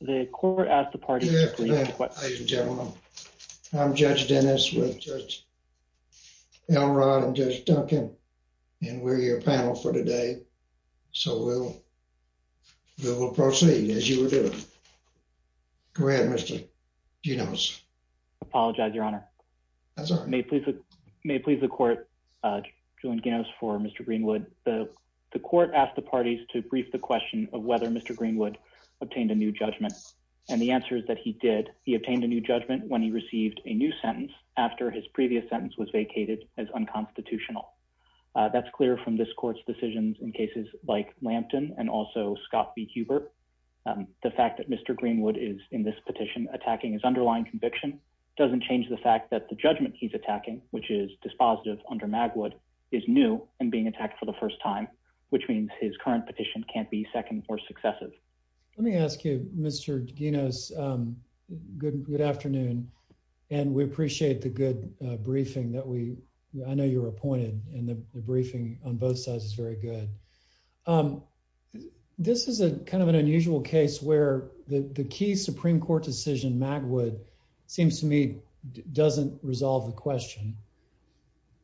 The court asked the parties to brief the question of whether Mr. Greenwood obtained a new judgment. And the answer is that he did. He obtained a new judgment when he received a new sentence after his previous sentence was vacated as unconstitutional. That's clear from this court's decisions in cases like Lampton and also Scott v. Hubert. The fact that Mr. Greenwood is, in this petition, attacking his underlying conviction doesn't change the fact that the judgment he's attacking, which is dispositive under Magwood, is new and being attacked for the first time, which means his current petition can't be second or successive. Let me ask you, Mr. D'Aguinos, good afternoon. And we appreciate the good briefing that we, I know you're appointed and the briefing on both sides is very good. This is a kind of an unusual case where the key Supreme Court decision, Magwood, seems to me doesn't resolve the question.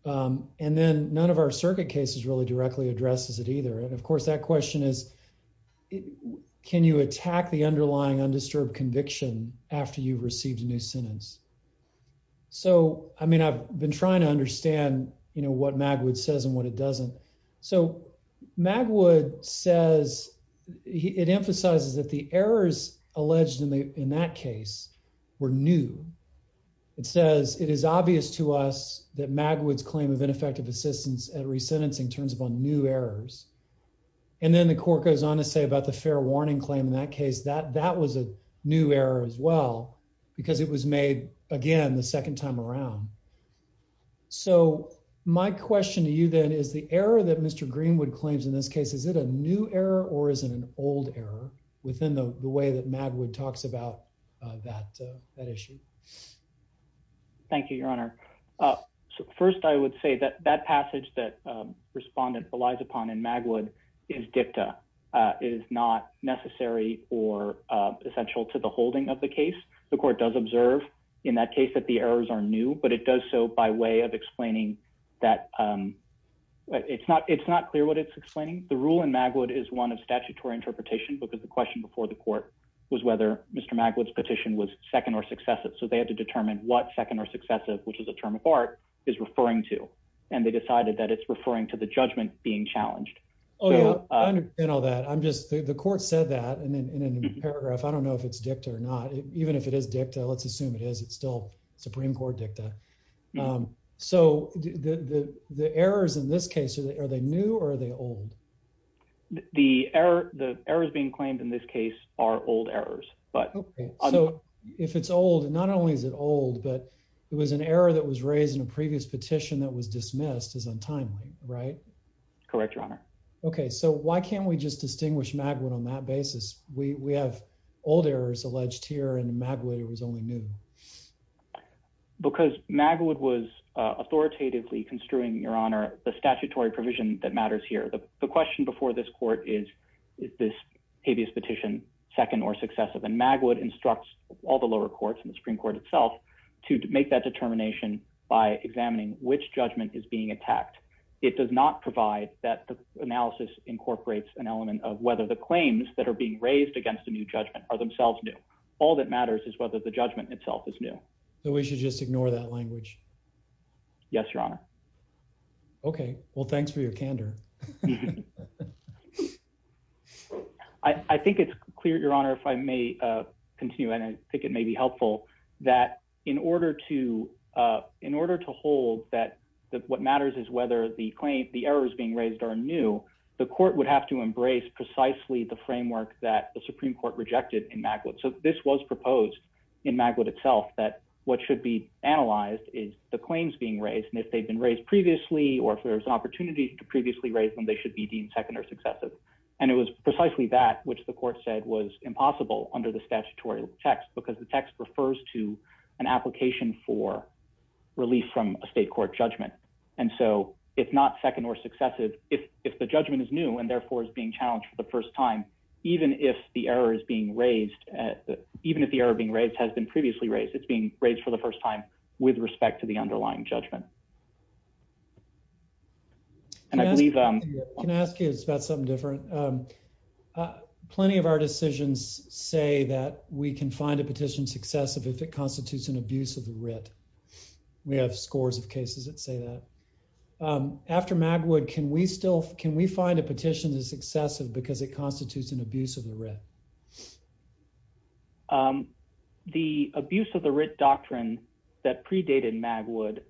Um, and then none of our circuit cases really directly addresses it either. And of course, that question is, can you attack the underlying undisturbed conviction after you've received a new sentence? So, I mean, I've been trying to understand, you know, what Magwood says and what it doesn't. So Magwood says it emphasizes that the errors alleged in the, in that case were new. It says it is obvious to us that Magwood's claim of ineffective assistance at resentencing turns upon new errors. And then the court goes on to say about the fair warning claim in that case, that that was a new error as well, because it was made again the second time around. So my question to you then is the error that Mr. Greenwood claims in this case, is it a new error or is it an old error within the way that Magwood talks about that issue? Thank you, Your Honor. First, I would say that that passage that respondent relies upon in Magwood is dicta, is not necessary or essential to the holding of the case. The court does observe in that case that the errors are new, but it does so by way of explaining that, um, it's not, it's not clear what it's explaining. The rule in Magwood is one of statutory interpretation because the question before the court was whether Mr. Magwood's petition was second or successive. So they had to determine what second or successive, which is a term of art, is referring to. And they decided that it's referring to the judgment being challenged. Oh yeah, I understand all that. I'm just, the court said that and then in a paragraph, I don't know if it's dicta or not, even if it is dicta, let's assume it is, it's still Supreme Court dicta. Um, so the, the, the errors in this case, are they new or are they old? The error, the errors being claimed in this case are old errors, but if it's old, not only is it old, but it was an error that was raised in a previous petition that was dismissed as untimely, right? Correct, Your Honor. Okay, so why can't we just distinguish Magwood on that basis? We, we have old errors alleged here in Magwood. It was only new because Magwood was authoritatively The question before this court is, is this previous petition second or successive? And Magwood instructs all the lower courts and the Supreme Court itself to make that determination by examining which judgment is being attacked. It does not provide that the analysis incorporates an element of whether the claims that are being raised against a new judgment are themselves new. All that matters is whether the judgment itself is new. So we should just ignore that language. Yes, Your Honor. Okay, well, thanks for your candor. I, I think it's clear, Your Honor, if I may, uh, continue and I think it may be helpful that in order to, uh, in order to hold that, that what matters is whether the claim, the errors being raised are new, the court would have to embrace precisely the framework that the Supreme Court rejected in Magwood. So this was proposed in Magwood itself that what should be the claims being raised and if they've been raised previously, or if there's an opportunity to previously raise them, they should be deemed second or successive. And it was precisely that which the court said was impossible under the statutory text because the text refers to an application for relief from a state court judgment. And so if not second or successive, if, if the judgment is new and therefore is being challenged for the first time, even if the error is being raised, even if the error being raised has been previously raised, it's being raised for the first time with respect to the underlying judgment. And I believe, um, can I ask you about something different? Um, uh, plenty of our decisions say that we can find a petition successive if it constitutes an abuse of the writ. We have scores of cases that say that, um, after Magwood, can we still can we find a writ doctrine that predated Magwood?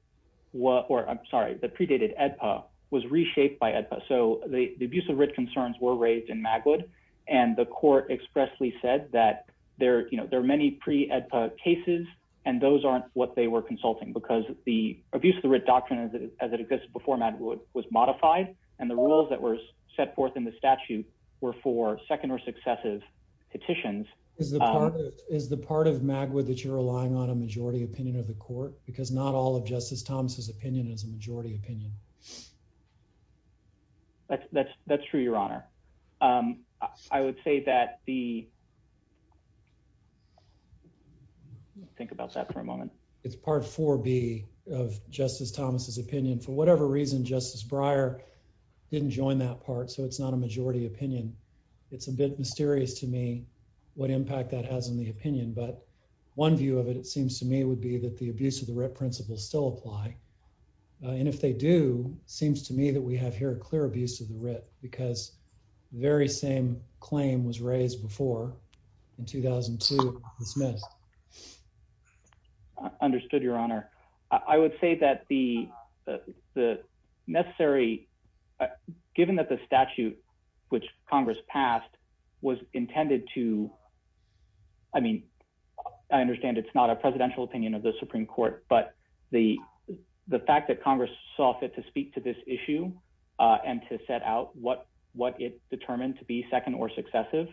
What, or I'm sorry, the predated EDPA was reshaped by EDPA. So the abuse of writ concerns were raised in Magwood and the court expressly said that there, you know, there are many pre EDPA cases and those aren't what they were consulting because the abuse of the writ doctrine as it exists before Magwood was modified. And the rules that were set forth in the statute were for second or successive petitions. Is the part is the part of Magwood that you're relying on a majority opinion of the court? Because not all of Justice Thomas's opinion is a majority opinion. That's that's that's true, Your Honor. Um, I would say that the think about that for a moment. It's part four B of Justice Thomas's opinion. For whatever reason, Justice Breyer didn't join that part. So it's not a majority opinion. It's a bit mysterious to me. What impact that has on the opinion. But one view of it, it seems to me, would be that the abuse of the writ principles still apply. And if they do, seems to me that we have here a clear abuse of the writ because very same claim was raised before in 2002 dismissed. Understood, Your Honor. I would I mean, I understand it's not a presidential opinion of the Supreme Court, but the the fact that Congress saw fit to speak to this issue and to set out what what it determined to be second or successive,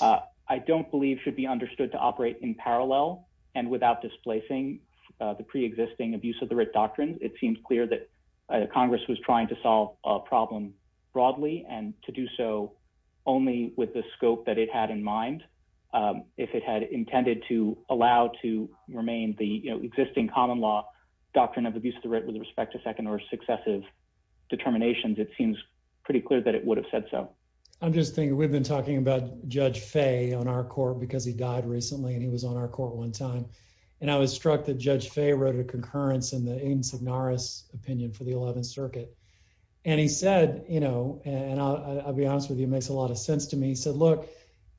I don't believe should be understood to operate in parallel and without displacing the pre existing abuse of the writ doctrine. It seems clear that Congress was trying to solve a problem broadly and to do so only with the scope that it had in mind. Um, if it had intended to allow to remain the existing common law doctrine of abuse of the writ with respect to second or successive determinations, it seems pretty clear that it would have said so. I'm just thinking we've been talking about Judge Fay on our court because he died recently, and he was on our court one time, and I was struck that Judge Fay wrote a concurrence in the aims of Norris opinion for 11th Circuit, and he said, you know, and I'll be honest with you makes a lot of sense to me. He said, Look,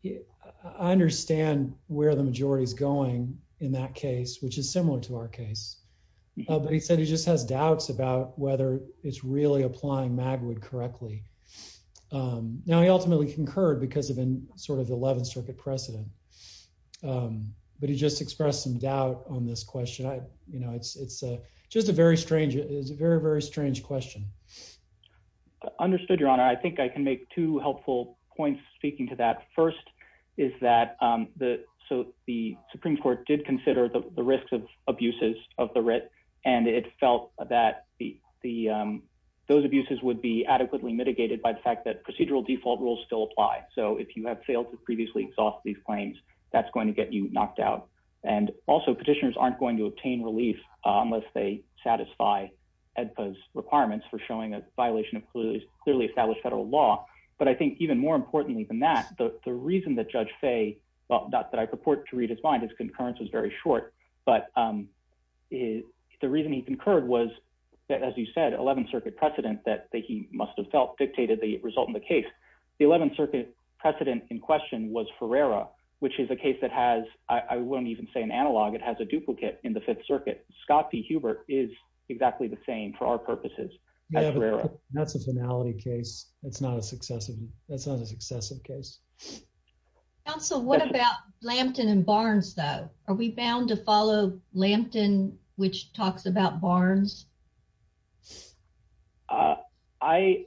I understand where the majority is going in that case, which is similar to our case. But he said he just has doubts about whether it's really applying Magwood correctly. Now, he ultimately concurred because of in sort of 11th Circuit precedent. But he just expressed some doubt on this question. You know, it's just a very strange. It's a very, very strange question. I understood your honor. I think I can make two helpful points. Speaking to that first is that the so the Supreme Court did consider the risks of abuses of the writ, and it felt that the those abuses would be adequately mitigated by the fact that procedural default rules still apply. So if you have failed to previously exhaust these claims, that's going to get you knocked out. And also, petitioners aren't going to obtain relief unless they satisfy Ed pose requirements for showing a violation of clearly established federal law. But I think even more importantly than that, the reason that Judge Fay, well, not that I purport to read his mind, his concurrence was very short. But the reason he concurred was that, as you said, 11th Circuit precedent that he must have felt dictated the result in the case. The 11th Circuit precedent in question was Ferreira, which is a case that I wouldn't even say an analog. It has a duplicate in the Fifth Circuit. Scott P. Hubert is exactly the same for our purposes. That's a finality case. It's not a successive. That's not a successive case. So what about Lampton and Barnes, though? Are we bound to follow Lampton, which talks about Barnes? I,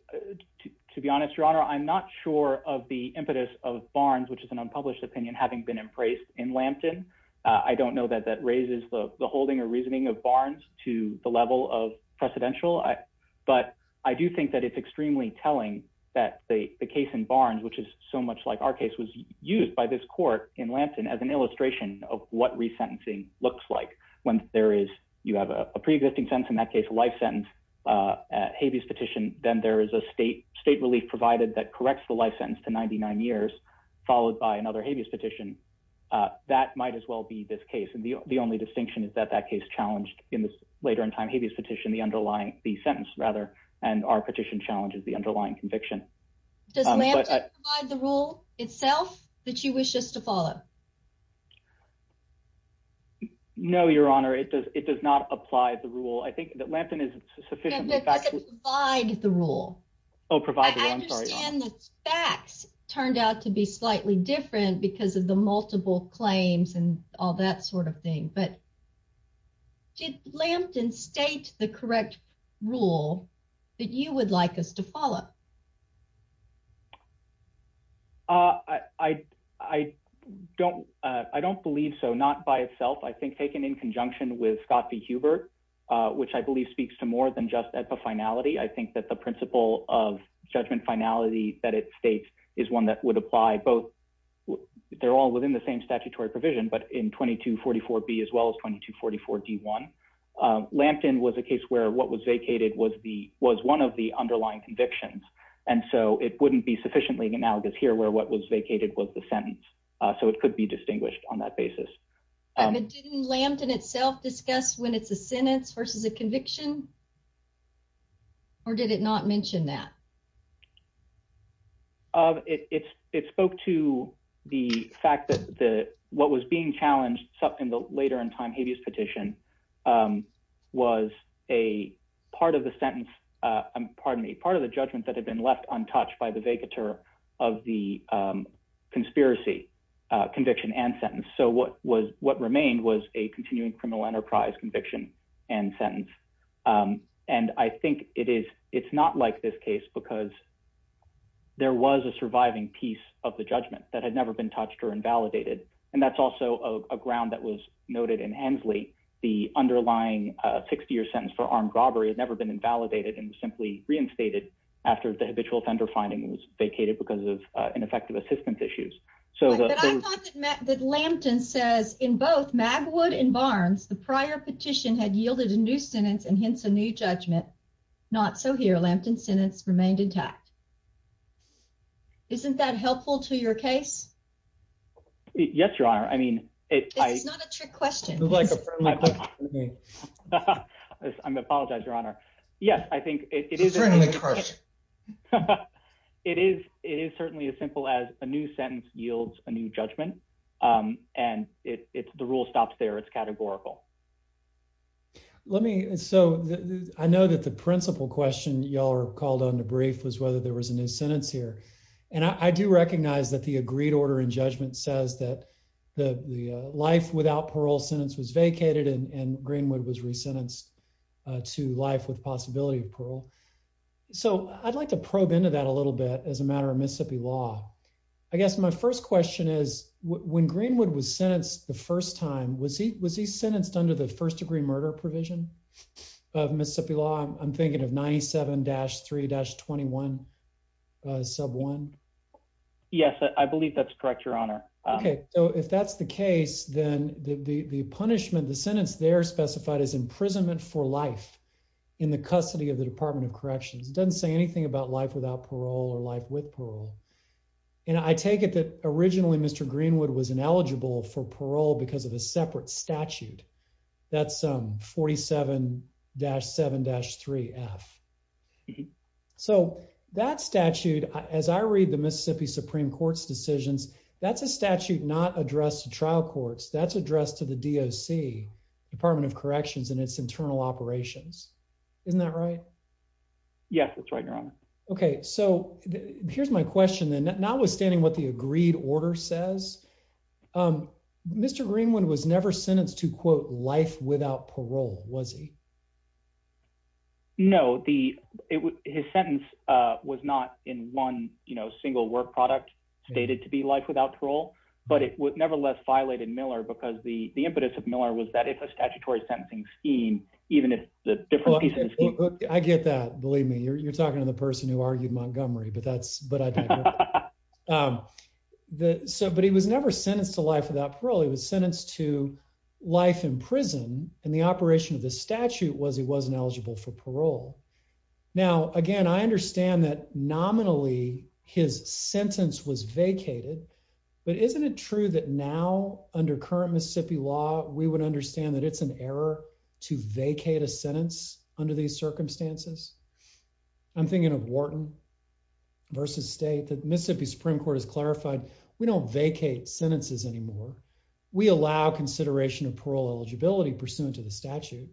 to be honest, your honor, I'm not sure of the impetus of Barnes, which is an unpublished opinion having been embraced in Lampton. I don't know that that raises the holding or reasoning of Barnes to the level of precedential. But I do think that it's extremely telling that the case in Barnes, which is so much like our case, was used by this court in Lampton as an illustration of what resentencing looks like when there is you have a preexisting sense, in that case, a life sentence, habeas petition. Then there is a state state relief provided that corrects the life sentence to 99 years, followed by another habeas petition. That might as well be this case. And the only distinction is that that case challenged in this later in time habeas petition, the underlying, the sentence rather, and our petition challenges the underlying conviction. Does Lampton provide the rule itself that you wish us to follow? No, your honor, it does. It does not apply the rule. I think that Lampton is doesn't provide the rule. I understand the facts turned out to be slightly different because of the multiple claims and all that sort of thing. But did Lampton state the correct rule that you would like us to follow? I don't believe so. Not by itself. I think taken in conjunction with Scott v. Hubert, which I believe speaks to more than just at the finality. I think that the principle of judgment finality that it states is one that would apply both. They're all within the same statutory provision, but in 2244B as well as 2244D1. Lampton was a case where what was vacated was one of the underlying convictions. And so it wouldn't be sufficiently analogous here where what was vacated was the sentence. So it could be distinguished on that basis. Didn't Lampton itself discuss when it's a sentence versus a conviction? Or did it not mention that? It spoke to the fact that what was being challenged in the later in time habeas petition was a part of the sentence, pardon me, part of the judgment that had been left untouched by the what remained was a continuing criminal enterprise conviction and sentence. And I think it's not like this case because there was a surviving piece of the judgment that had never been touched or invalidated. And that's also a ground that was noted in Hensley. The underlying 60 year sentence for armed robbery had never been invalidated and simply reinstated after the habitual offender finding was vacated because of ineffective assistance issues. But I thought that Lampton says in both Magwood and Barnes, the prior petition had yielded a new sentence and hence a new judgment. Not so here. Lampton's sentence remained intact. Isn't that helpful to your case? Yes, your honor. I mean, it's not a trick question. I apologize, your honor. Yes, I think it is. It is. It is certainly as simple as a new sentence yields a new judgment. And it's the rule stops there. It's categorical. Let me so I know that the principal question y'all are called on to brief was whether there was a new sentence here. And I do recognize that the agreed order in judgment says that the life without parole sentence was vacated and Greenwood was resentenced to life with possibility of parole. So I'd like to probe into that a little bit as a matter of Mississippi law. I guess my first question is, when Greenwood was sentenced the first time, was he was he sentenced under the first degree murder provision of Mississippi law? I'm thinking of 97 dash three 21 sub one. Yes, I believe that's correct, your honor. Okay, so if that's the case, then the punishment, the sentence there specified as imprisonment for life in the custody of the Department of Corrections doesn't say anything about life without parole or life with parole. And I take it that originally Mr. Greenwood was ineligible for parole because of a separate statute. That's 47-7-3 F. So that statute, as I read the Mississippi Supreme Court's decisions, that's a statute not addressed trial courts that's addressed to the D. O. C. Department of Corrections and its internal operations. Isn't that right? Yes, that's right, your honor. Okay, so here's my question. Notwithstanding what the agreed order says, Mr. Greenwood was never sentenced to, quote, life without parole, was he? No, his sentence was not in one single work product stated to be life without parole, but it nevertheless violated Miller because the impetus of Miller was that if a statutory sentencing scheme, even if the different pieces... I get that. Believe me, you're talking to the life without parole. He was sentenced to life in prison and the operation of the statute was he wasn't eligible for parole. Now, again, I understand that nominally his sentence was vacated, but isn't it true that now under current Mississippi law, we would understand that it's an error to vacate a sentence under these circumstances? I'm thinking of Wharton versus state. The Mississippi Supreme Court has clarified we don't vacate sentences anymore. We allow consideration of parole eligibility pursuant to the statute,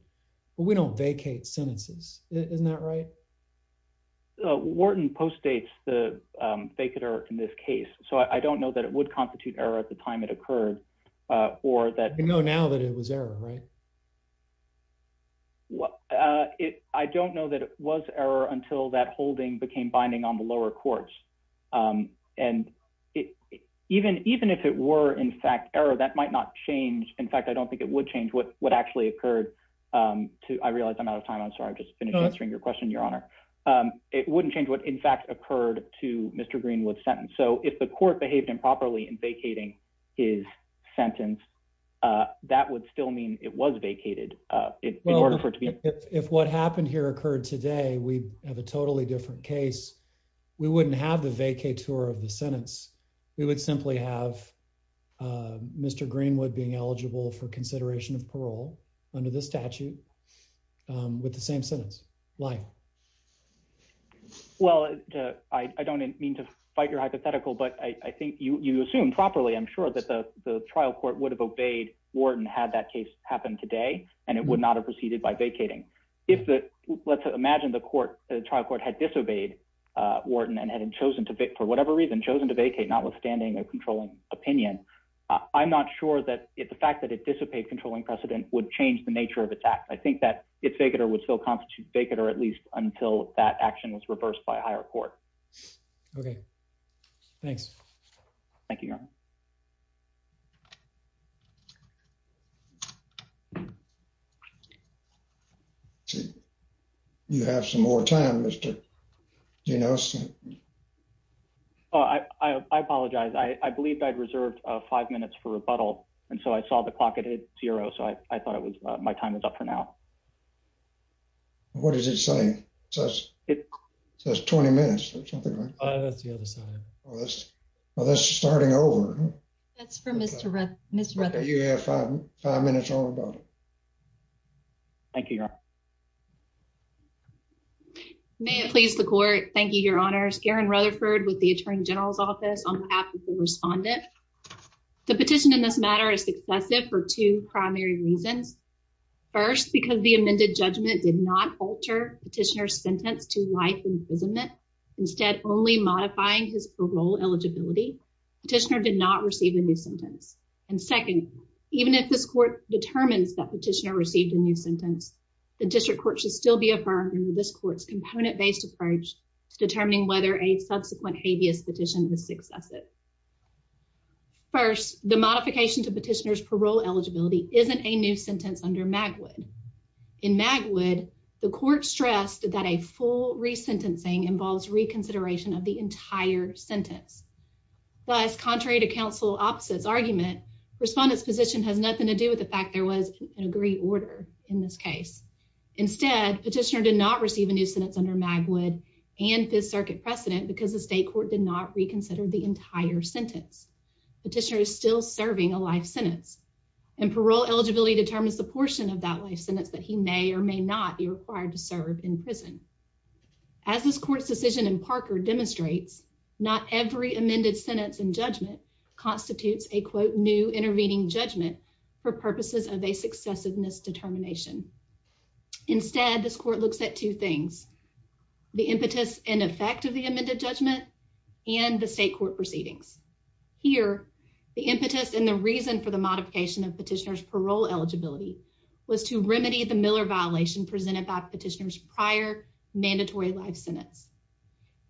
but we don't vacate sentences. Isn't that right? Wharton postdates the vacater in this case, so I don't know that it would constitute error at the time it occurred or that... You know now that it was error, right? Well, I don't know that it was error until that holding became binding on the lower courts. And even if it were in fact error, that might not change. In fact, I don't think it would change what actually occurred to... I realize I'm out of time. I'm sorry. I've just finished answering your question, Your Honor. It wouldn't change what in fact occurred to Mr. Greenwood's sentence. So if the court behaved improperly in vacating his sentence, that would still mean it was vacated. Well, if what happened here occurred today, we'd have a totally different case. We wouldn't have the vacator of the sentence. We would simply have Mr. Greenwood being eligible for consideration of parole under this statute with the same sentence, lying. Well, I don't mean to fight your hypothetical, but I think you assumed properly, I'm sure, that the trial court would have obeyed Wharton had that happened today, and it would not have proceeded by vacating. Let's imagine the trial court had disobeyed Wharton and had chosen to, for whatever reason, chosen to vacate, notwithstanding a controlling opinion. I'm not sure that the fact that it dissipated controlling precedent would change the nature of its act. I think that its vacator would still constitute vacator, at least until that action was reversed by a higher court. Okay. Thanks. Thank you, Your Honor. Thank you. You have some more time, Mr. Gino. Oh, I apologize. I believed I'd reserved five minutes for rebuttal, and so I saw the clock. It hit zero, so I thought my time was up for now. What does it say? It says 20 minutes or something like that. That's the other side. Well, that's starting over. That's for Mr. Rutherford. You have five minutes on rebuttal. Thank you, Your Honor. May it please the court. Thank you, Your Honors. Karen Rutherford with the Attorney General's Office, on behalf of the respondent. The petition in this matter is successive for two primary reasons. First, because the amended judgment did not alter petitioner's sentence to life imprisonment, instead only modifying his parole eligibility, petitioner did not receive a new sentence. Even if this court determines that petitioner received a new sentence, the district court should still be affirming this court's component-based approach to determining whether a subsequent habeas petition is successive. First, the modification to petitioner's parole eligibility isn't a new sentence under Magwood. In Magwood, the court stressed that a full resentencing involves reconsideration of the fact there was an agreed order in this case. Instead, petitioner did not receive a new sentence under Magwood and Fifth Circuit precedent because the state court did not reconsider the entire sentence. Petitioner is still serving a life sentence, and parole eligibility determines the portion of that life sentence that he may or may not be required to serve in prison. As this court's decision in Parker demonstrates, not every amended sentence in judgment constitutes a quote new intervening judgment for purposes of a successiveness determination. Instead, this court looks at two things, the impetus and effect of the amended judgment and the state court proceedings. Here, the impetus and the reason for the modification of petitioner's parole eligibility was to remedy the Miller violation presented by petitioner's mandatory life sentence.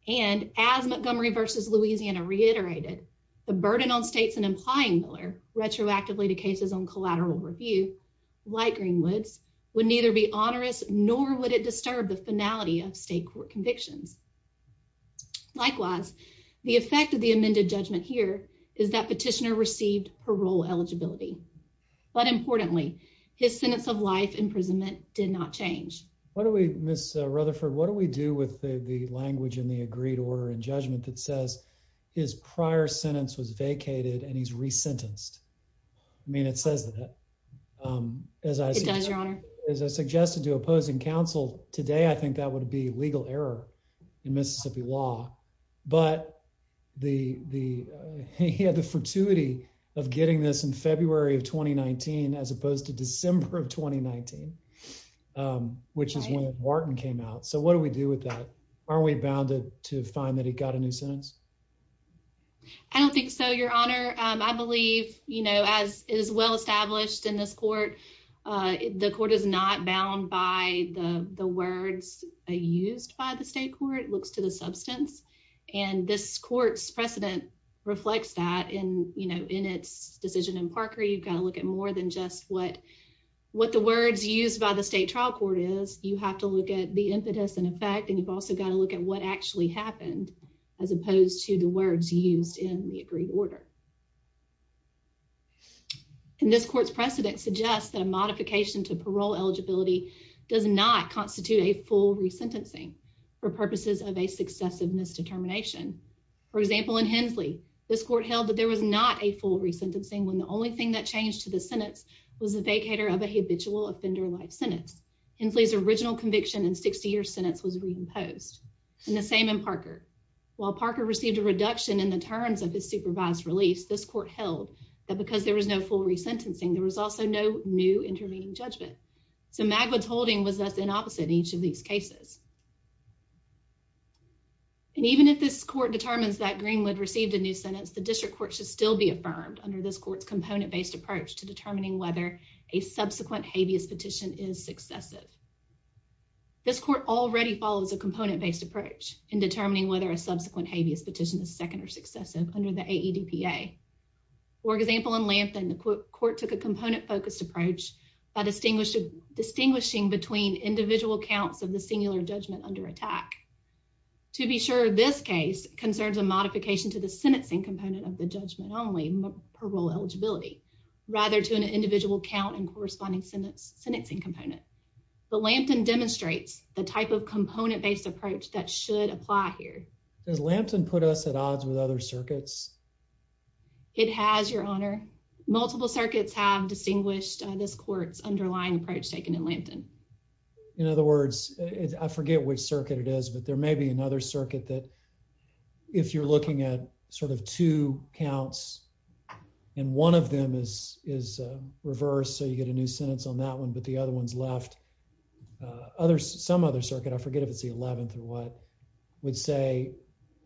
And as Montgomery versus Louisiana reiterated, the burden on states and implying Miller retroactively to cases on collateral review, like Greenwood's, would neither be onerous nor would it disturb the finality of state court convictions. Likewise, the effect of the amended judgment here is that petitioner received parole eligibility. But importantly, his sentence of life imprisonment did not change. What do we Miss Rutherford? What do we do with the language in the agreed order and judgment that says his prior sentence was vacated and he's re sentenced? I mean, it says that, um, as I said, your honor, as I suggested to opposing counsel today, I think that would be legal error in Mississippi law. But the he had the fortuity of getting this in February of 2019 as opposed to December of 2019, um, which is when Wharton came out. So what do we do with that? Are we bounded to find that he got a new sentence? I don't think so, your honor. I believe, you know, as is well established in this court, the court is not bound by the words used by the state court looks to the substance. And this court's precedent reflects that in, you know, in its decision in Parker, you've got to look at more than just what, what the words used by the state trial court is. You have to look at the impetus and effect, and you've also got to look at what actually happened as opposed to the words used in the agreed order. And this court's precedent suggests that a modification to parole eligibility does not constitute a full resentencing for purposes of a successive misdetermination. For example, in Hensley, this court held that there was not a full resentencing when the only thing that changed to the sentence was the vacator of a habitual offender life sentence. Hensley's original conviction in 60 year sentence was reimposed in the same in Parker. While Parker received a reduction in the terms of his supervised release, this court held that because there was no full resentencing, there was also no new intervening judgment. So Magwood's holding was thus in opposite in each of these cases. And even if this court determines that Greenwood received a new sentence, the district court should still be affirmed under this court's component-based approach to determining whether a subsequent habeas petition is successive. This court already follows a component-based approach in determining whether a subsequent habeas petition is second or successive under the AEDPA. For example, in Lanthan, the court took a individual counts of the singular judgment under attack. To be sure, this case concerns a modification to the sentencing component of the judgment only parole eligibility, rather to an individual count and corresponding sentence sentencing component. But Lanthan demonstrates the type of component-based approach that should apply here. Does Lanthan put us at odds with other circuits? It has, Your Honor. Multiple circuits have distinguished this court's underlying approach taken in Lanthan. In other words, I forget which circuit it is, but there may be another circuit that if you're looking at sort of two counts and one of them is reversed, so you get a new sentence on that one, but the other one's left. Some other circuit, I forget if it's the 11th or what, would say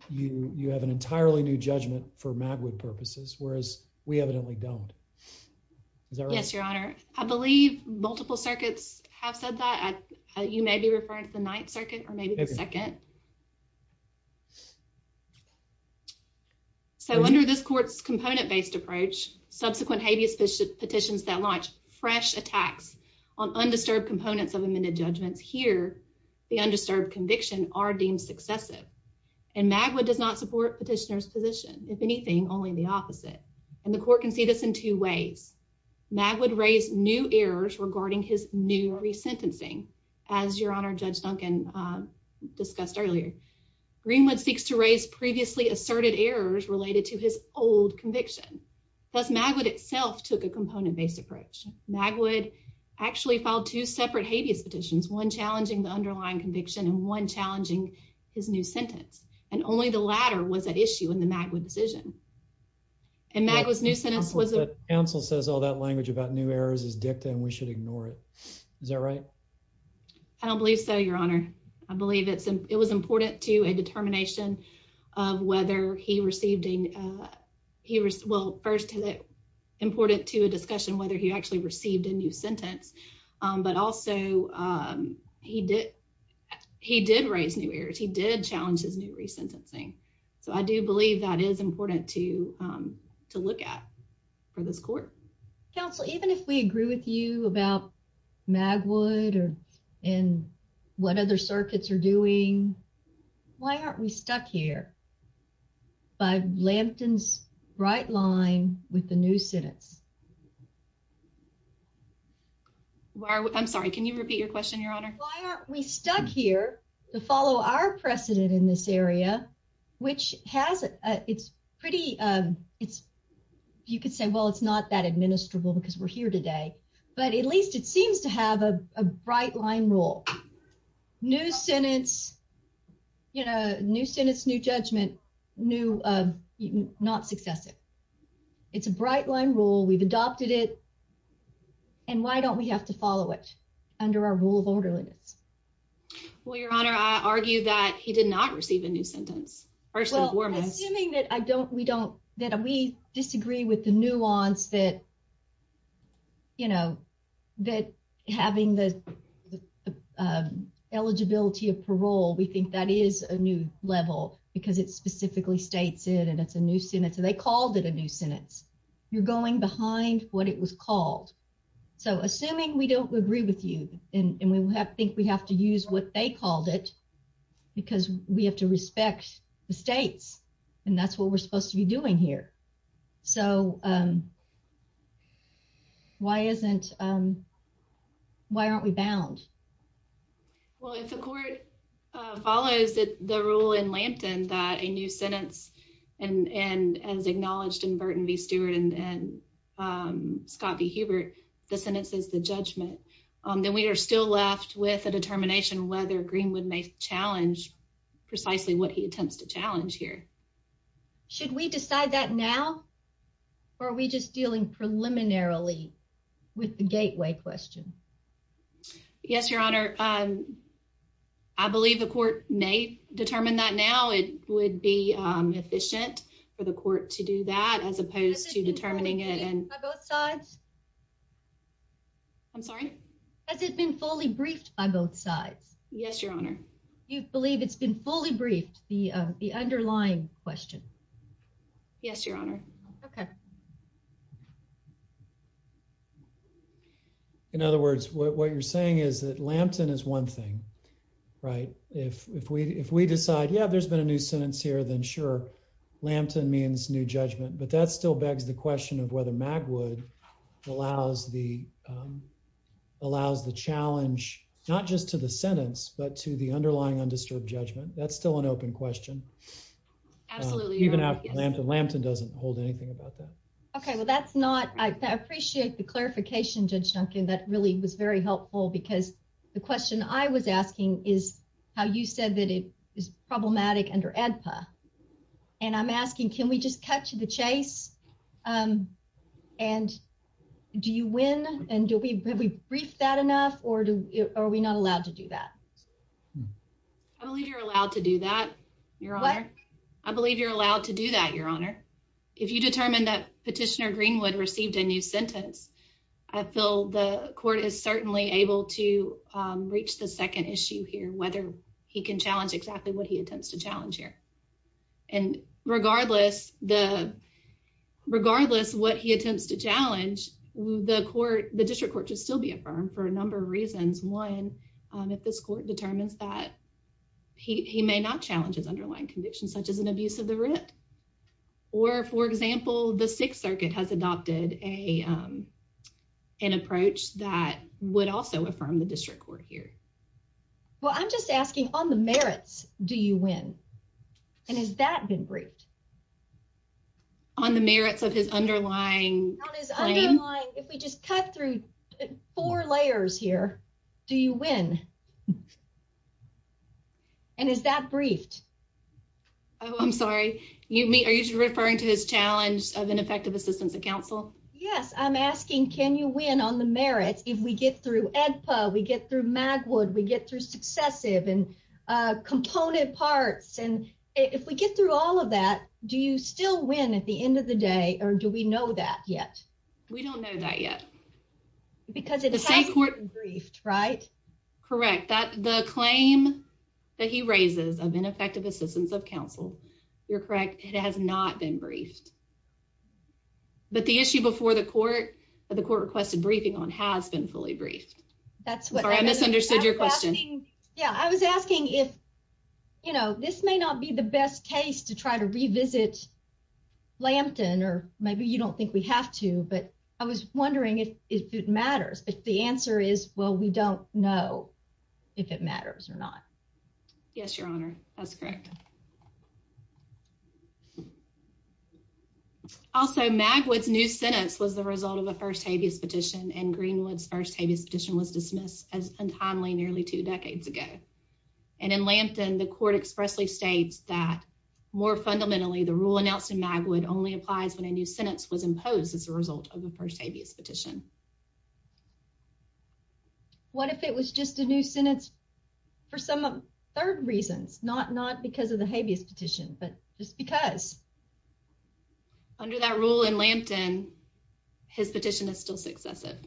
you have an entirely new judgment for Magwood purposes, whereas we evidently don't. Yes, Your Honor. I believe multiple circuits have said that. You may be referring to the ninth circuit or maybe the second. So under this court's component-based approach, subsequent habeas petitions that launch fresh attacks on undisturbed components of amended judgments here, the undisturbed conviction are deemed successive. And Magwood does not support petitioner's position. If anything, only the opposite. And the court can see this in two ways. Magwood raised new errors regarding his new resentencing. As Your Honor, Judge Duncan discussed earlier, Greenwood seeks to raise previously asserted errors related to his old conviction. Thus, Magwood itself took a component-based approach. Magwood actually filed two separate habeas petitions, one challenging the underlying conviction and one challenging his new sentence. And only the latter was at Magwood's decision. And Magwood's new sentence was a... Counsel says all that language about new errors is dicta and we should ignore it. Is that right? I don't believe so, Your Honor. I believe it was important to a determination of whether he received a... Well, first, is it important to a discussion whether he actually received a new sentence? But also, he did raise new errors. He did challenge his new resentencing. So I do believe that is important to look at for this court. Counsel, even if we agree with you about Magwood and what other circuits are doing, why aren't we stuck here by Lampton's bright line with the new sentence? I'm sorry. Can you repeat your question, Your Honor? Why aren't we stuck here to follow our precedent in this area, which has... It's pretty... You could say, well, it's not that administrable because we're here today. But at least it seems to have a bright line rule. New sentence, new judgment, not successive. It's a bright line rule. We've adopted it. And why don't we have to follow it under our rule of orderliness? Well, Your Honor, I argue that he did not receive a new sentence. First and foremost... Well, assuming that we disagree with the nuance that having the eligibility of parole, we think that is a new level because it specifically states it and it's a new sentence. So they called it a new sentence. You're going behind what it was called. So assuming we don't agree with you and we think we have to use what they called it because we have to respect the states and that's what we're supposed to be doing here. So why aren't we bound? Well, if the court follows the rule in Lampton that a new sentence and as acknowledged in Burton v. Stewart and Scott v. Hubert, the sentence is the judgment, then we are still left with a determination whether Greenwood may challenge precisely what he attempts to challenge here. Should we decide that now? Or are we just dealing preliminarily with the gateway question? Yes, Your Honor. I believe the court may determine that now. It would be efficient for the court to do that as opposed to determining it. I'm sorry? Has it been fully briefed by both sides? Yes, Your Honor. Do you believe it's been fully briefed, the underlying question? Yes, Your Honor. Okay. In other words, what you're saying is that Lampton is one thing, right? If we decide, yeah, there's been a new sentence here, then sure, Lampton means new judgment, but that still begs the question of whether Magwood allows the challenge, not just to the sentence, but to the underlying undisturbed judgment. That's still an open question. Absolutely. Even after Lampton, Lampton doesn't hold anything about that. Okay, well, that's not... I appreciate the clarification, Judge Duncan. That really was very helpful because the question I was asking is how you said that it is problematic under ADPA. And I'm asking, can we just cut to the chase? And do you win? And have we briefed that enough? Or are we not allowed to do that? I believe you're allowed to do that, Your Honor. I believe you're allowed to do that, Your Honor. If you determine that Petitioner Greenwood received a new sentence, I feel the court is certainly able to reach the second issue here, whether he can challenge exactly what he attempts to challenge here. And regardless what he attempts to challenge, the district court should still be affirmed for a number of reasons. One, if this court determines that he may not challenge his underlying convictions, such as an abuse of the writ. Or, for example, the Sixth Circuit has adopted an approach that would also affirm the district court here. Well, I'm just asking, on the merits, do you win? And has that been briefed? On the merits of his underlying claim? If we just cut through four layers here, do you win? And is that briefed? Oh, I'm sorry. Are you referring to his challenge of ineffective assistance of counsel? Yes. I'm asking, can you win on the merits if we get through ADPA, we get through Magwood, we get through successive and component parts? And if we get through all of that, do you still win at the end of the day? Or do we know that yet? We don't know that yet. Because it hasn't been briefed, right? Correct. The claim that he raises of ineffective assistance of counsel, you're correct, it has not been briefed. But the issue before the court that the court requested briefing on has been fully briefed. Sorry, I misunderstood your question. Yeah, I was asking if, you know, this may not be the best case to try to revisit Lampton, or maybe you don't think we have to, but I was wondering if it matters, but the answer is, well, we don't know if it matters or not. Yes, Your Honor, that's correct. Also, Magwood's new sentence was the result of a first habeas petition and Greenwood's habeas petition was dismissed as untimely nearly two decades ago. And in Lampton, the court expressly states that more fundamentally, the rule announced in Magwood only applies when a new sentence was imposed as a result of a first habeas petition. What if it was just a new sentence for some third reasons, not because of the habeas petition, but just because? Under that rule in Lampton, his petition is still successive.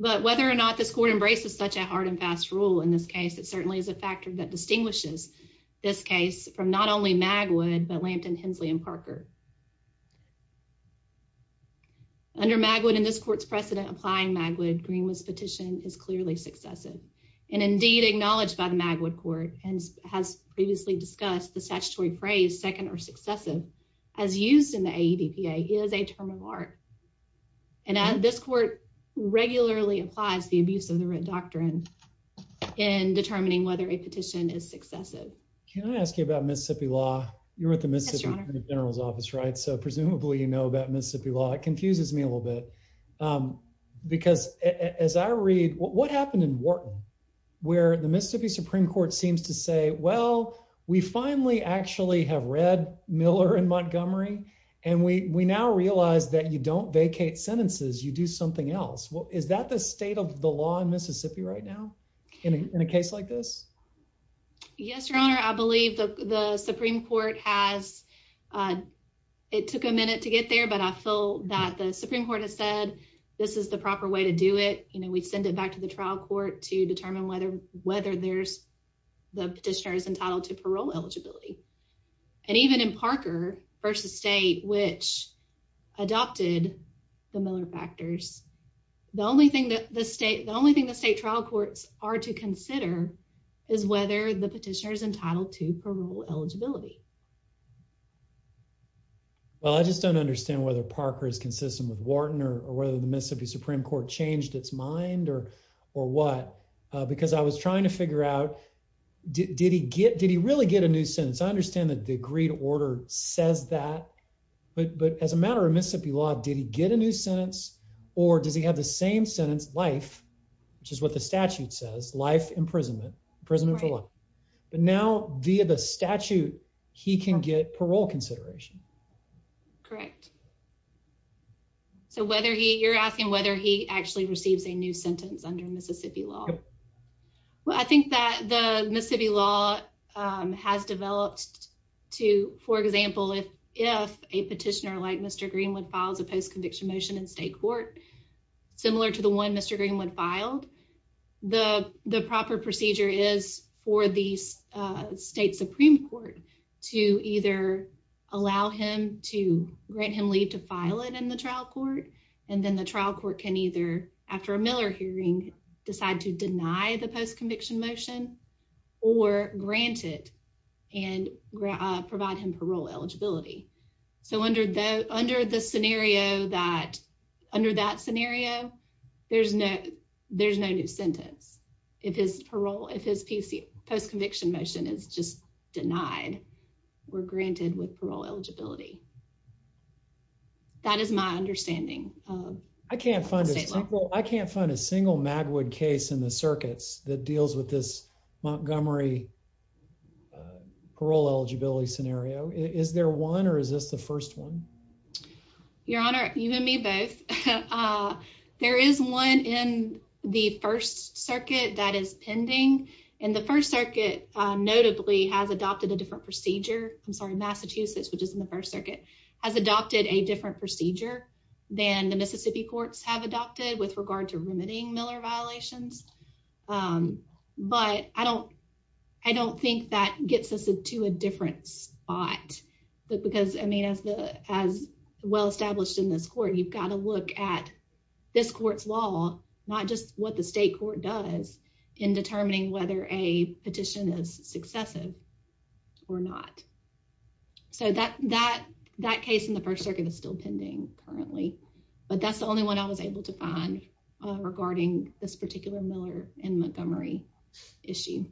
But whether or not this court embraces such a hard and fast rule in this case, it certainly is a factor that distinguishes this case from not only Magwood, but Lampton, Hensley, and Parker. Under Magwood and this court's precedent applying Magwood, Greenwood's petition is clearly successive and indeed acknowledged by the Magwood court and has previously discussed the statutory phrase second or successive as used in the AEDPA is a term of art. And this court regularly applies the abuse of the Red Doctrine in determining whether a petition is successive. Can I ask you about Mississippi law? You're with the Mississippi General's Office, right? So presumably, you know about Mississippi law. It confuses me a little bit. Because as I read what happened in Wharton, where the Mississippi Supreme Court seems to say, well, we finally actually have read Miller in Montgomery. And we now realize that you don't vacate sentences. You do something else. Well, is that the state of the law in Mississippi right now in a case like this? Yes, your honor. I believe the Supreme Court has. It took a minute to get there, but I feel that the Supreme Court has said this is the proper way to do it. You know, we send it back to the trial court to determine whether whether there's the petitioner is entitled to parole eligibility. And even in Parker v. State, which adopted the Miller factors, the only thing that the state, the only thing the state trial courts are to consider is whether the petitioner is entitled to parole eligibility. Well, I just don't understand whether Parker is consistent with Wharton or whether the Mississippi Supreme Court changed its mind or or what, because I was trying to figure out, did he get did he really get a new sentence? I understand that the agreed order says that, but but as a matter of Mississippi law, did he get a new sentence or does he have the same sentence life, which is what the statute says, life imprisonment, imprisonment for life. But now via the statute, he can get parole consideration. Correct. So whether he you're asking whether he actually receives a new sentence under Mississippi law. Well, I think that the Mississippi law has developed to, for example, if if a petitioner like Mr. Greenwood files a post conviction motion in state court, similar to the one Mr. Greenwood filed, the the proper procedure is for the state Supreme Court to either allow him to grant him leave to file it in the trial court. And then the trial court can either, after a Miller hearing, decide to deny the post conviction motion or grant it and provide him parole eligibility. So under the under the scenario that under that scenario, there's no there's no new sentence. If his parole, if his PC post conviction motion is just denied, we're granted with parole eligibility. That is my understanding. I can't find it. I can't find a single Magwood case in the circuits that deals with this Montgomery parole eligibility scenario. Is there one or is this the first one? Your Honor, you and me both. There is one in the First Circuit that is pending. And the First Circuit notably has adopted a different procedure. I'm sorry, Massachusetts, which is in the First Circuit has adopted a different procedure than the Mississippi courts have adopted with regard to remitting Miller violations. But I don't I don't think that gets us to a different spot. Because I mean, as the as well established in this court, you've got to look at this court's law, not just what the state court does in determining whether a petition is successive or not. So that that that case in the First Circuit is still pending currently, but that's the only one I was able to find regarding this particular Miller and Montgomery issue.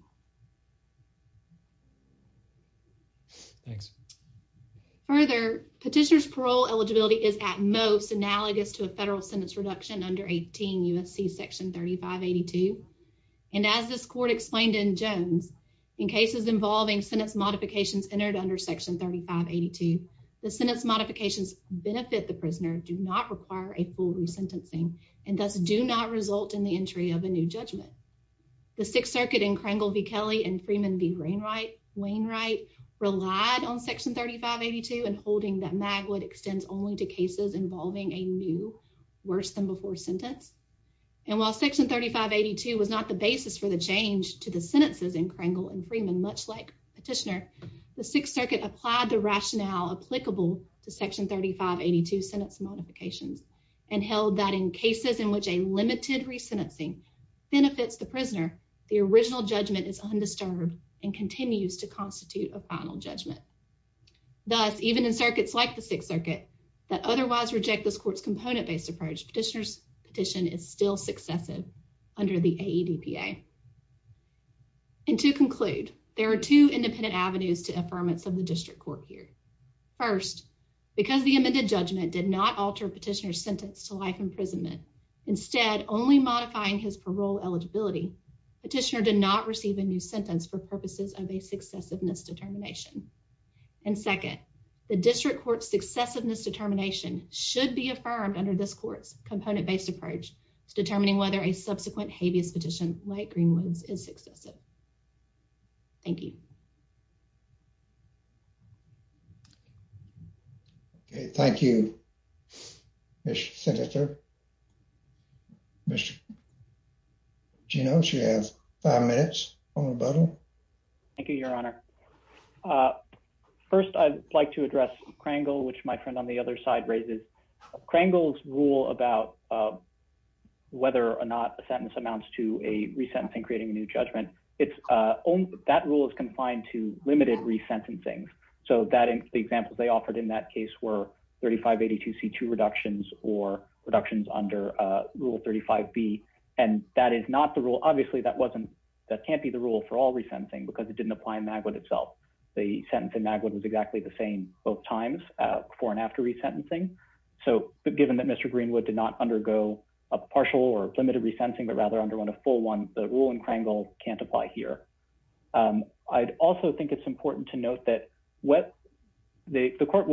Thanks. Further, petitioners parole eligibility is at most analogous to a federal sentence reduction under 18 U.S.C. Section 3582. And as this court explained in Jones, in cases involving sentence modifications entered under Section 3582, the sentence modifications benefit the prisoner do not require a full resentencing and thus do not result in the entry of a new judgment. The Sixth Circuit in Kringle v. Kelly and Freeman v. Wainwright relied on Section 3582 and holding that Magwood extends only to cases involving a new worse than before sentence. And while Section 3582 was not the basis for the change to the sentences in Kringle and Freeman, much like Petitioner, the Sixth Circuit applied the rationale applicable to Section 3582 sentence modifications and held that in cases in which a limited resentencing benefits the prisoner, the original judgment is undisturbed and continues to constitute a final judgment. Thus, even in circuits like the Sixth Circuit that otherwise reject this court's component-based approach, Petitioner's petition is still successive under the AEDPA. And to conclude, there are two independent avenues to affirmance of the district court here. First, because the amended judgment did not alter Petitioner's sentence to life imprisonment, instead only modifying his parole eligibility, Petitioner did not receive a new sentence for purposes of a successiveness determination. And second, the district court's successiveness determination should be affirmed under this court's component-based approach to determining whether a subsequent habeas petition like Greenwood's is successive. Thank you. Okay, thank you, Mr. Senator. Mr. Gino, she has five minutes on the button. Thank you, Your Honor. First, I'd like to address Krangel, which my friend on the other side raises. Krangel's rule about whether or not a sentence amounts to a resentencing creating a new judgment, that rule is confined to limited resentencing. So the examples they offered in that case were 3582C2 reductions or reductions under Rule 35B. And that is not the rule. Obviously, that can't be the rule for all resentencing because it didn't apply in Magwood itself. The sentence in Magwood was exactly the same both times, before and after resentencing. So given that Mr. Greenwood did not undergo a partial or limited resentencing, but rather underwent a full one, the rule in Krangel can't apply here. I'd also think it's important to note that the court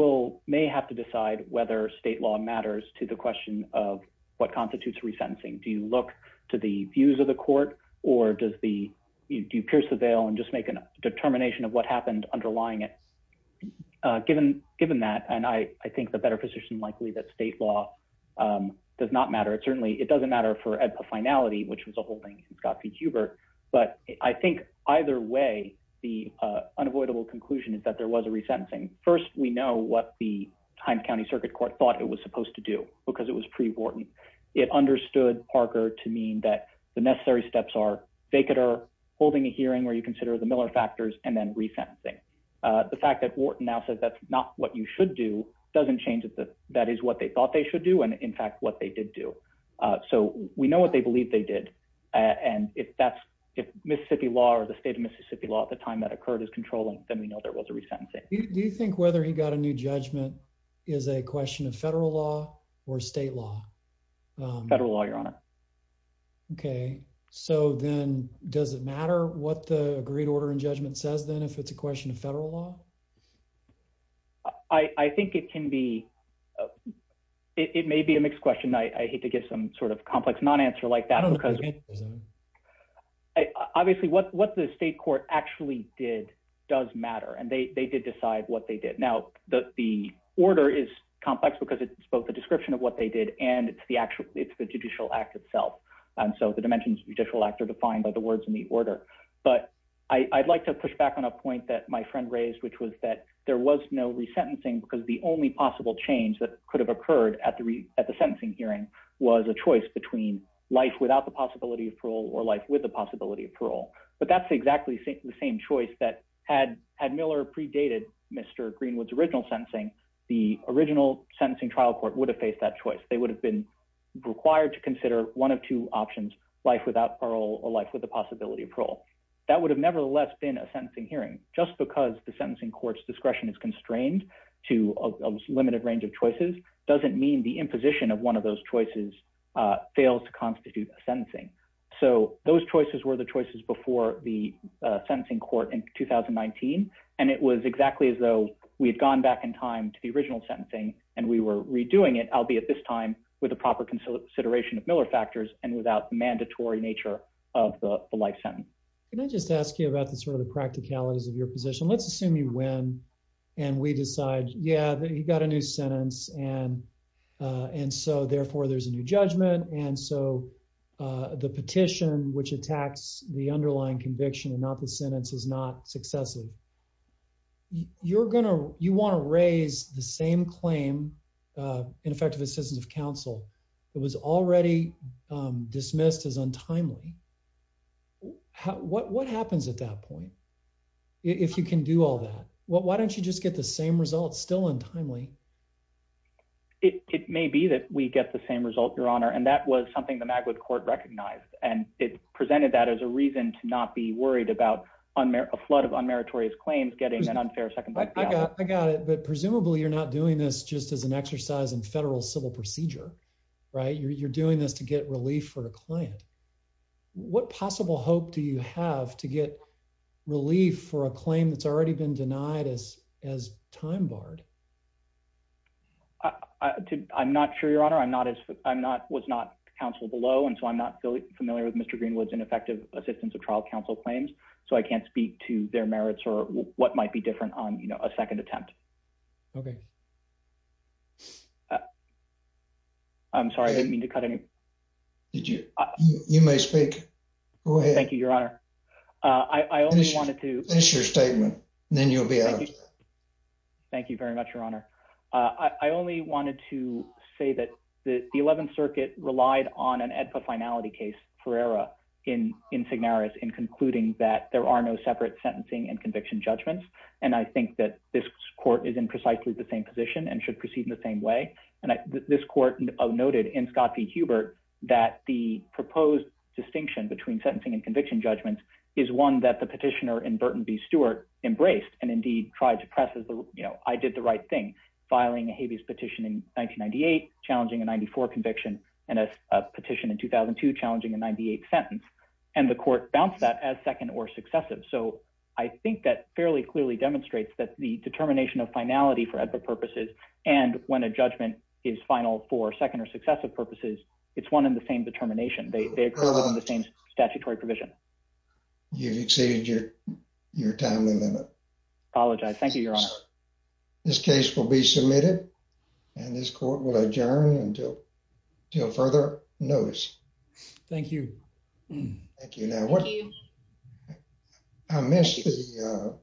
may have to decide whether state law matters to the question of what constitutes resentencing. Do you look to the views of the court or do you pierce the veil and just make a determination of what happened underlying it? Given that, and I think the better position likely that state law does not matter. It certainly doesn't matter for EDPA finality, which was a holding in Scott v. Huber. But I think either way, the unavoidable conclusion is that there was a resentencing. First, we know what the Himes County Circuit Court thought it was supposed to do because it was pre-Wharton. It understood, Parker, to mean that the necessary steps are vacater, holding a hearing where you consider the Miller factors, and then resentencing. The fact that Wharton now says that's not what you should do doesn't change that that is what they thought they should do and in fact what they did do. So we know what they believe they did and if that's, if Mississippi law or the state of Mississippi law at the time that occurred is controlling, then we know there was a resentencing. Do you think whether he got a new judgment is a question of federal law or state law? Federal law, your honor. Okay, so then does it matter what the agreed order in judgment says then if it's a question of federal law? I think it can be, it may be a mixed question. I hate to give some sort of complex non-answer like that because obviously what the state court actually did does matter and they did decide what did. Now the order is complex because it's both a description of what they did and it's the actual, it's the judicial act itself and so the dimensions of judicial act are defined by the words in the order. But I'd like to push back on a point that my friend raised which was that there was no resentencing because the only possible change that could have occurred at the sentencing hearing was a choice between life without the possibility of parole or life with the possibility of parole. But that's exactly the same choice that had Miller predated Mr. Greenwood's original sentencing, the original sentencing trial court would have faced that choice. They would have been required to consider one of two options, life without parole or life with the possibility of parole. That would have nevertheless been a sentencing hearing just because the sentencing court's discretion is constrained to a limited range of choices doesn't mean the choices before the sentencing court in 2019 and it was exactly as though we had gone back in time to the original sentencing and we were redoing it albeit this time with the proper consideration of Miller factors and without the mandatory nature of the life sentence. Can I just ask you about the sort of the practicalities of your position? Let's assume you win and we decide yeah he got a new sentence and so therefore there's a new judgment and so the petition which attacks the underlying conviction and not the sentence is not successive. You're going to you want to raise the same claim ineffective assistance of counsel that was already dismissed as untimely. What happens at that point if you can do all that? Why don't you just get the same result still untimely? It may be that we get the same result your honor and that was something the Magwood court recognized and it presented that as a reason to not be worried about a flood of unmeritorious claims getting an unfair second. I got it but presumably you're not doing this just as an exercise in federal civil procedure right? You're doing this to get relief for a client. What possible hope do you have to get relief for a claim that's already been denied as time barred? I'm not sure your honor. I'm not as I'm not was not counsel below and so I'm not familiar with Mr. Greenwood's ineffective assistance of trial counsel claims so I can't speak to their merits or what might be different on you know a second attempt. Okay. I'm sorry I didn't mean to cut any. You may speak. Go ahead. Thank you your honor. I only wanted to. Finish your statement then you'll be out of it. Thank you very much your honor. I only wanted to say that the 11th circuit relied on an EDPA finality case for error in in Signaris in concluding that there are no separate sentencing and conviction judgments and I think that this court is in precisely the same position and should proceed in the same way and this court noted in Scott v. Hubert that the proposed distinction between sentencing and is one that the petitioner in Burton v. Stewart embraced and indeed tried to press as the you know I did the right thing filing a habeas petition in 1998 challenging a 94 conviction and a petition in 2002 challenging a 98 sentence and the court bounced that as second or successive so I think that fairly clearly demonstrates that the determination of finality for other purposes and when a judgment is final for second or successive purposes it's one in the same provision. You've exceeded your your time limit. Apologize. Thank you your honor. This case will be submitted and this court will adjourn until until further notice. Thank you. Thank you. I missed the uh